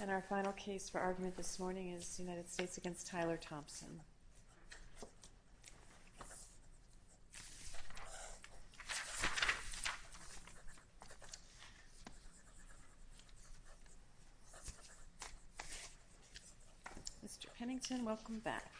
And our final case for argument this morning is United States v. Tyler Thompson. Mr. Pennington, welcome back.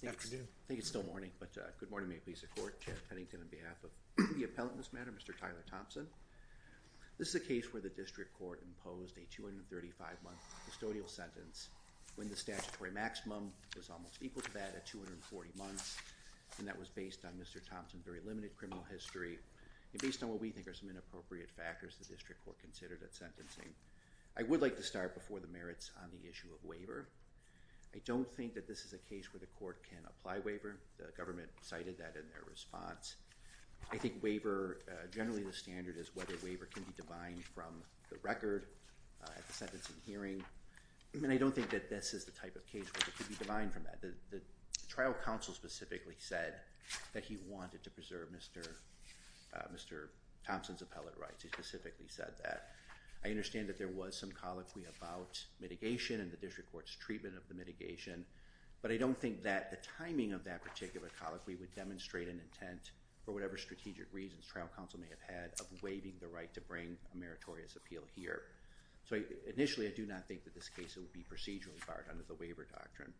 Good afternoon. I think it's still morning, but good morning. May it please the court. Chair Pennington on behalf of the appellant in this matter, Mr. Tyler Thompson. This is a case where the district court imposed a 235-month custodial sentence when the statutory maximum was almost equal to that at 240 months. And that was based on Mr. Thompson's very limited criminal history and based on what we think are some inappropriate factors the district court considered at sentencing. I would like to start before the merits on the issue of waiver. I don't think that this is a case where the court can apply waiver. The government cited that in their response. I think waiver, generally the standard is whether waiver can be divined from the record at the sentencing hearing. And I don't think that this is the type of case where it could be divined from that. The trial counsel specifically said that he wanted to preserve Mr. Thompson's appellate rights. He specifically said that. I understand that there was some colloquy about mitigation and the district court's treatment of the mitigation. But I don't think that the timing of that particular colloquy would demonstrate an intent for whatever strategic reasons trial counsel may have had of waiving the right to bring a meritorious appeal here. So initially I do not think that this case would be procedurally barred under the waiver doctrine.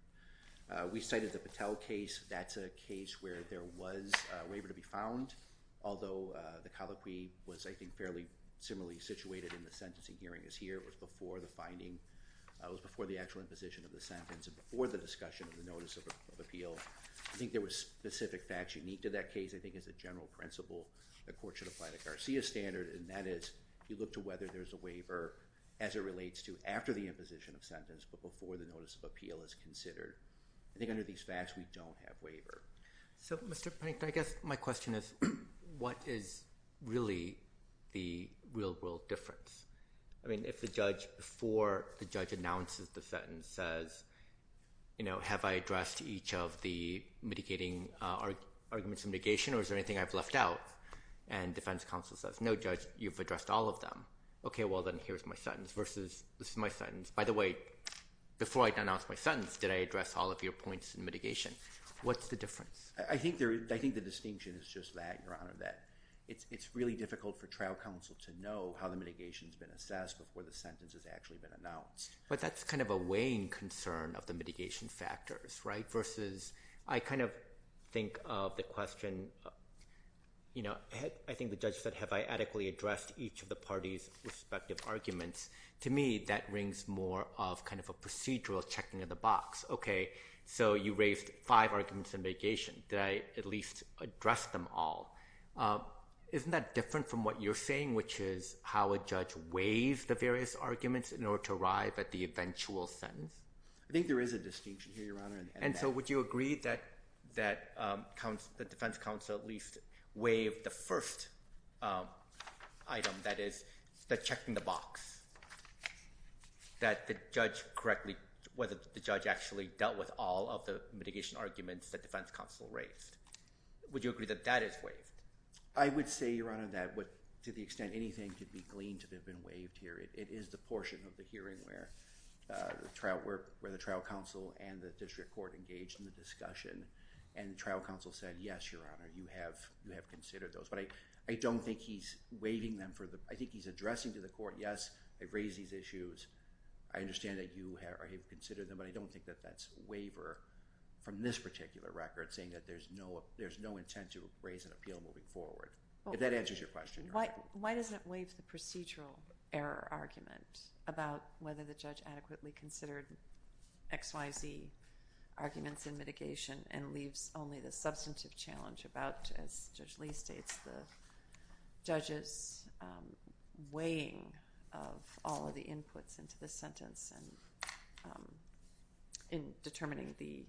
We cited the Patel case. That's a case where there was a waiver to be found, although the colloquy was, I think, fairly similarly situated in the sentencing hearing as here. It was before the finding. It was before the actual imposition of the sentence and before the discussion of the notice of appeal. I think there were specific facts unique to that case. I think as a general principle, the court should apply the Garcia standard, and that is you look to whether there's a waiver as it relates to after the imposition of sentence but before the notice of appeal is considered. I think under these facts we don't have waiver. So, Mr. Pink, I guess my question is what is really the real-world difference? I mean, if the judge before the judge announces the sentence says, you know, have I addressed each of the mitigating arguments of mitigation or is there anything I've left out? And defense counsel says, no, judge, you've addressed all of them. Okay, well, then here's my sentence versus this is my sentence. By the way, before I denounce my sentence, did I address all of your points in mitigation? What's the difference? I think the distinction is just that, Your Honor, that it's really difficult for trial counsel to know how the mitigation is being addressed. It needs to be assessed before the sentence has actually been announced. But that's kind of a weighing concern of the mitigation factors, right, versus I kind of think of the question, you know, I think the judge said, have I adequately addressed each of the parties' respective arguments. To me, that rings more of kind of a procedural checking of the box. Okay, so you raised five arguments in mitigation. Did I at least address them all? Isn't that different from what you're saying, which is how a judge weighs the various arguments in order to arrive at the eventual sentence? I think there is a distinction here, Your Honor. And so would you agree that the defense counsel at least waived the first item, that is, the checking the box? That the judge correctly – whether the judge actually dealt with all of the mitigation arguments that defense counsel raised? Would you agree that that is waived? I would say, Your Honor, that to the extent anything could be gleaned to have been waived here, it is the portion of the hearing where the trial counsel and the district court engaged in the discussion. And the trial counsel said, yes, Your Honor, you have considered those. But I don't think he's waiving them for the – I think he's addressing to the court, yes, I've raised these issues. I understand that you have considered them. But I don't think that that's waiver from this particular record, saying that there's no intent to raise an appeal moving forward. If that answers your question, Your Honor. Why doesn't it waive the procedural error argument about whether the judge adequately considered X, Y, Z arguments in mitigation and leaves only the substantive challenge about, as Judge Lee states, the judge's weighing of all of the inputs into the sentence and in determining the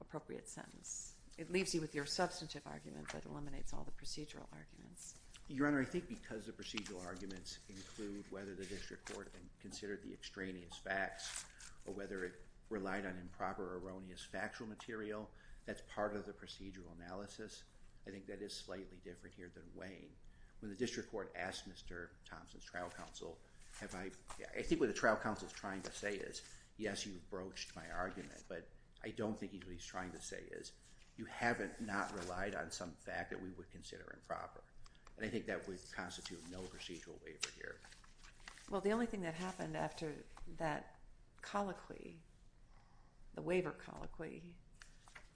appropriate sentence? It leaves you with your substantive argument that eliminates all the procedural arguments. Your Honor, I think because the procedural arguments include whether the district court considered the extraneous facts or whether it relied on improper or erroneous factual material, that's part of the procedural analysis. I think that is slightly different here than weighing. When the district court asked Mr. Thompson's trial counsel, have I – I think what the trial counsel is trying to say is, yes, you broached my argument, but I don't think what he's trying to say is, you haven't not relied on some fact that we would consider improper. And I think that would constitute no procedural waiver here. Well, the only thing that happened after that colloquy, the waiver colloquy,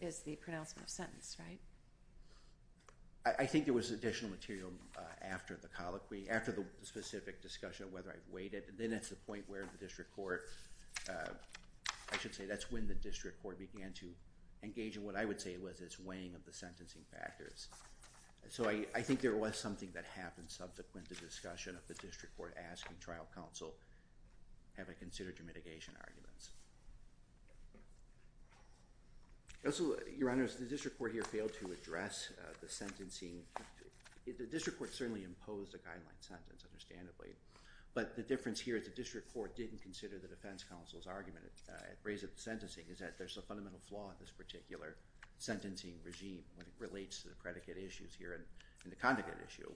is the pronouncement of sentence, right? I think there was additional material after the colloquy, after the specific discussion of whether I've weighed it. Then it's the point where the district court – I should say that's when the district court began to engage in what I would say was its weighing of the sentencing factors. So I think there was something that happened subsequent to the discussion of the district court asking trial counsel, have I considered your mitigation arguments? Also, Your Honor, the district court here failed to address the sentencing. The district court certainly imposed a guideline sentence, understandably. But the difference here is the district court didn't consider the defense counsel's argument at the raise of the sentencing is that there's a fundamental flaw in this particular sentencing regime when it relates to the predicate issues here and the conduct issue.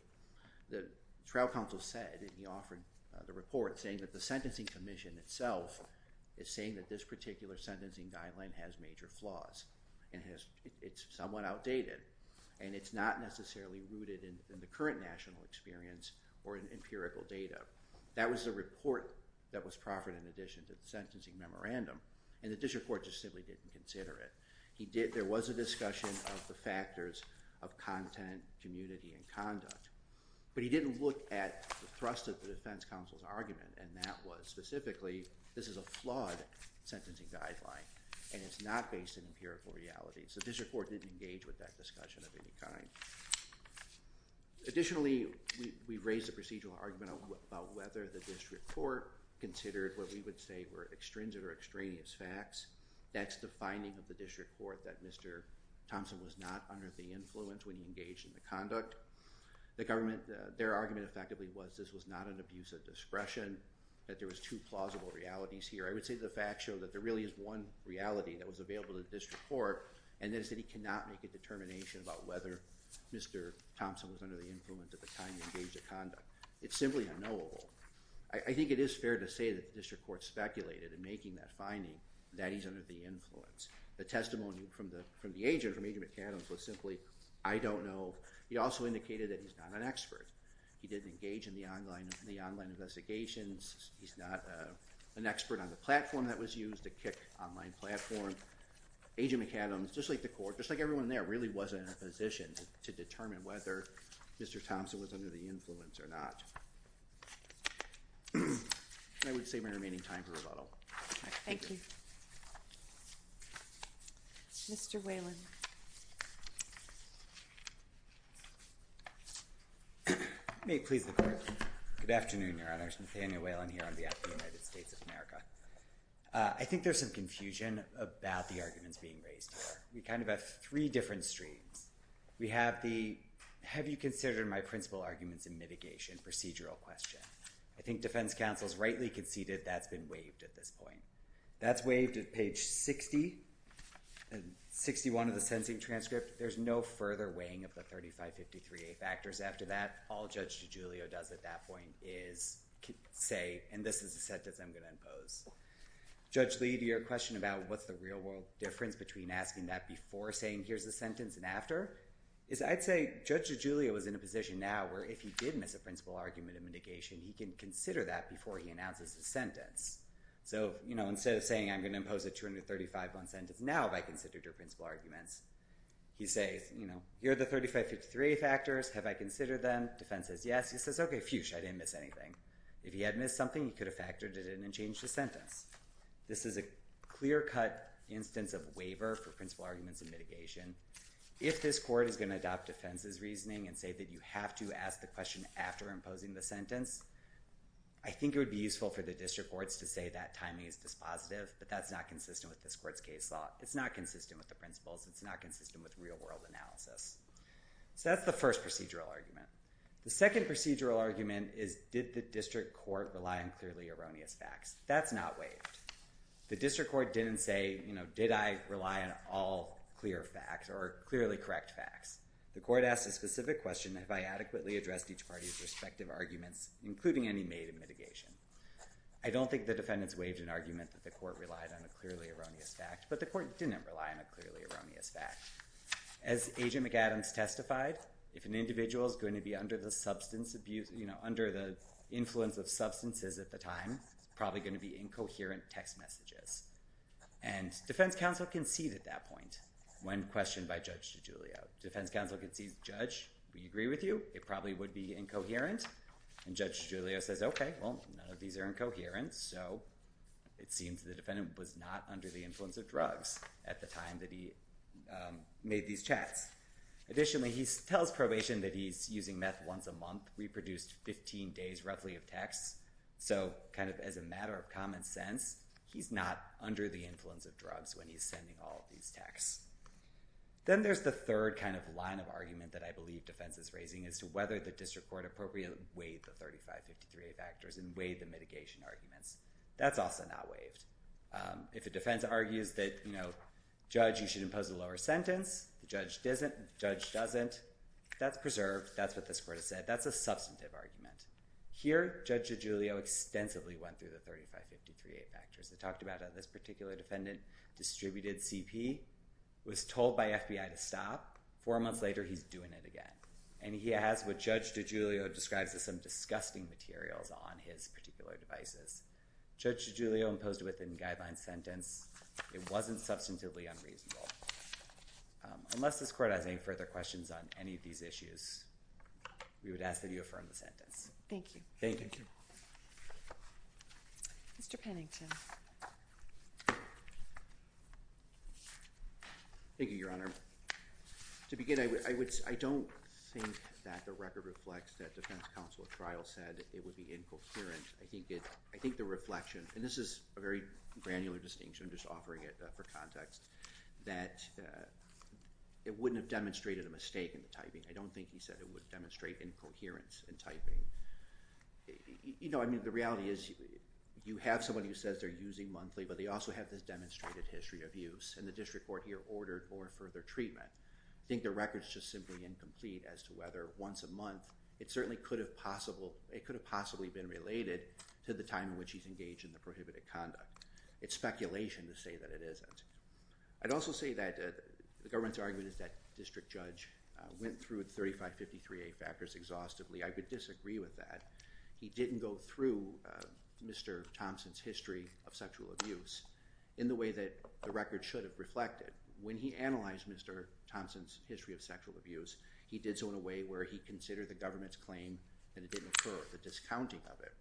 The trial counsel said, and he offered the report, saying that the sentencing commission itself is saying that this particular sentencing guideline has major flaws. It's somewhat outdated, and it's not necessarily rooted in the current national experience or in empirical data. That was the report that was proffered in addition to the sentencing memorandum, and the district court just simply didn't consider it. There was a discussion of the factors of content, community, and conduct, but he didn't look at the thrust of the defense counsel's argument, and that was specifically, this is a flawed sentencing guideline, and it's not based in empirical reality. So the district court didn't engage with that discussion of any kind. Additionally, we raised a procedural argument about whether the district court considered what we would say were extrinsic or extraneous facts. That's the finding of the district court, that Mr. Thompson was not under the influence when he engaged in the conduct. Their argument effectively was this was not an abuse of discretion, that there was two plausible realities here. I would say the facts show that there really is one reality that was available to the district court, and that is that he cannot make a determination about whether Mr. Thompson was under the influence at the time he engaged in conduct. It's simply unknowable. I think it is fair to say that the district court speculated in making that finding that he's under the influence. The testimony from the agent, from Adrian McAdams, was simply, I don't know. He also indicated that he's not an expert. He didn't engage in the online investigations. He's not an expert on the platform that was used to kick online platform. Agent McAdams, just like the court, just like everyone there, really wasn't in a position to determine whether Mr. Thompson was under the influence or not. I would save my remaining time for rebuttal. Thank you. Mr. Whalen. May it please the court. Good afternoon, Your Honors. Nathaniel Whalen here on behalf of the United States of America. I think there's some confusion about the arguments being raised here. We kind of have three different streams. We have the, have you considered my principal arguments in mitigation procedural question. I think defense counsel's rightly conceded that's been waived at this point. That's waived at page 60 and 61 of the sentencing transcript. There's no further weighing of the 3553A factors after that. All Judge DiGiulio does at that point is say, and this is the sentence I'm going to impose. Judge Lee, to your question about what's the real world difference between asking that before saying here's the sentence and after, is I'd say Judge DiGiulio is in a position now where if he did miss a principal argument in mitigation, he can consider that before he announces his sentence. So, you know, instead of saying I'm going to impose a 235 on sentence now if I considered your principal arguments, he says, you know, here are the 3553A factors. Have I considered them? Defense says yes. He says, okay, phew, I didn't miss anything. If he had missed something, he could have factored it in and changed the sentence. This is a clear cut instance of waiver for principal arguments in mitigation. If this court is going to adopt defense's reasoning and say that you have to ask the question after imposing the sentence, I think it would be useful for the district courts to say that timing is dispositive, but that's not consistent with this court's case law. It's not consistent with the principles. It's not consistent with real world analysis. So that's the first procedural argument. The second procedural argument is did the district court rely on clearly erroneous facts? That's not waived. The district court didn't say, you know, did I rely on all clear facts or clearly correct facts? The court asked a specific question, have I adequately addressed each party's respective arguments, including any made in mitigation? I don't think the defendants waived an argument that the court relied on a clearly erroneous fact, but the court didn't rely on a clearly erroneous fact. As Agent McAdams testified, if an individual is going to be under the substance abuse, you know, under the influence of substances at the time, it's probably going to be incoherent text messages. And defense counsel conceded that point when questioned by Judge DiGiulio. Defense counsel concedes, Judge, we agree with you. It probably would be incoherent. And Judge DiGiulio says, okay, well, none of these are incoherent. So it seems the defendant was not under the influence of drugs at the time that he made these chats. Additionally, he tells probation that he's using meth once a month, reproduced 15 days roughly of texts. So kind of as a matter of common sense, he's not under the influence of drugs when he's sending all of these texts. Then there's the third kind of line of argument that I believe defense is raising as to whether the district court appropriately weighed the 3553A factors and weighed the mitigation arguments. That's also not waived. If a defense argues that, you know, Judge, you should impose a lower sentence, the judge doesn't, that's preserved. That's what this court has said. That's a substantive argument. Here, Judge DiGiulio extensively went through the 3553A factors. It talked about how this particular defendant distributed CP, was told by FBI to stop. Four months later, he's doing it again. And he has what Judge DiGiulio describes as some disgusting materials on his particular devices. Judge DiGiulio imposed a within-guidelines sentence. It wasn't substantively unreasonable. Unless this court has any further questions on any of these issues, we would ask that you affirm the sentence. Thank you. Thank you. Thank you. Mr. Pennington. Thank you, Your Honor. To begin, I don't think that the record reflects that defense counsel at trial said it would be incoherent. I think the reflection, and this is a very granular distinction, I'm just offering it for context, I don't think he said it would demonstrate incoherence in typing. You know, I mean, the reality is you have someone who says they're using monthly, but they also have this demonstrated history of use. And the district court here ordered more further treatment. I think the record's just simply incomplete as to whether once a month. It certainly could have possibly been related to the time in which he's engaged in the prohibited conduct. It's speculation to say that it isn't. I'd also say that the government's argument is that district judge went through 3553A factors exhaustively. I would disagree with that. He didn't go through Mr. Thompson's history of sexual abuse in the way that the record should have reflected. When he analyzed Mr. Thompson's history of sexual abuse, he did so in a way where he considered the government's claim and it didn't occur, the discounting of it.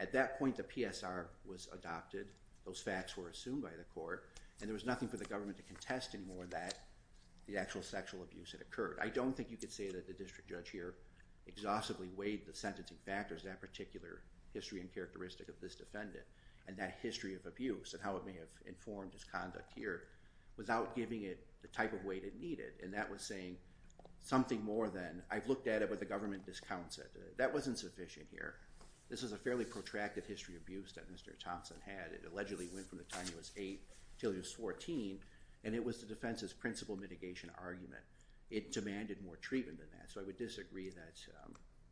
At that point, the PSR was adopted. Those facts were assumed by the court. And there was nothing for the government to contest anymore that the actual sexual abuse had occurred. I don't think you could say that the district judge here exhaustively weighed the sentencing factors, that particular history and characteristic of this defendant, and that history of abuse and how it may have informed his conduct here without giving it the type of weight it needed. And that was saying something more than, I've looked at it, but the government discounts it. That wasn't sufficient here. This is a fairly protracted history of abuse that Mr. Thompson had. It allegedly went from the time he was eight until he was 14, and it was the defense's principal mitigation argument. It demanded more treatment than that. So I would disagree that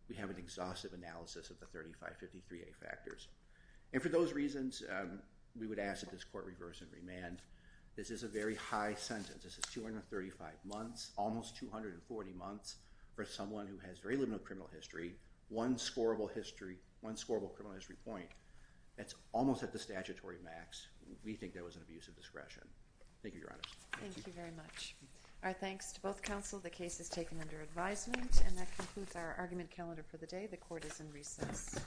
we have an exhaustive analysis of the 3553A factors. And for those reasons, we would ask that this court reverse and remand. This is a very high sentence. This is 235 months, almost 240 months for someone who has very limited criminal history, one scorable criminal history point. That's almost at the statutory max. We think that was an abuse of discretion. Thank you, Your Honor. Thank you very much. Our thanks to both counsel. The case is taken under advisement. And that concludes our argument calendar for the day. The court is in recess.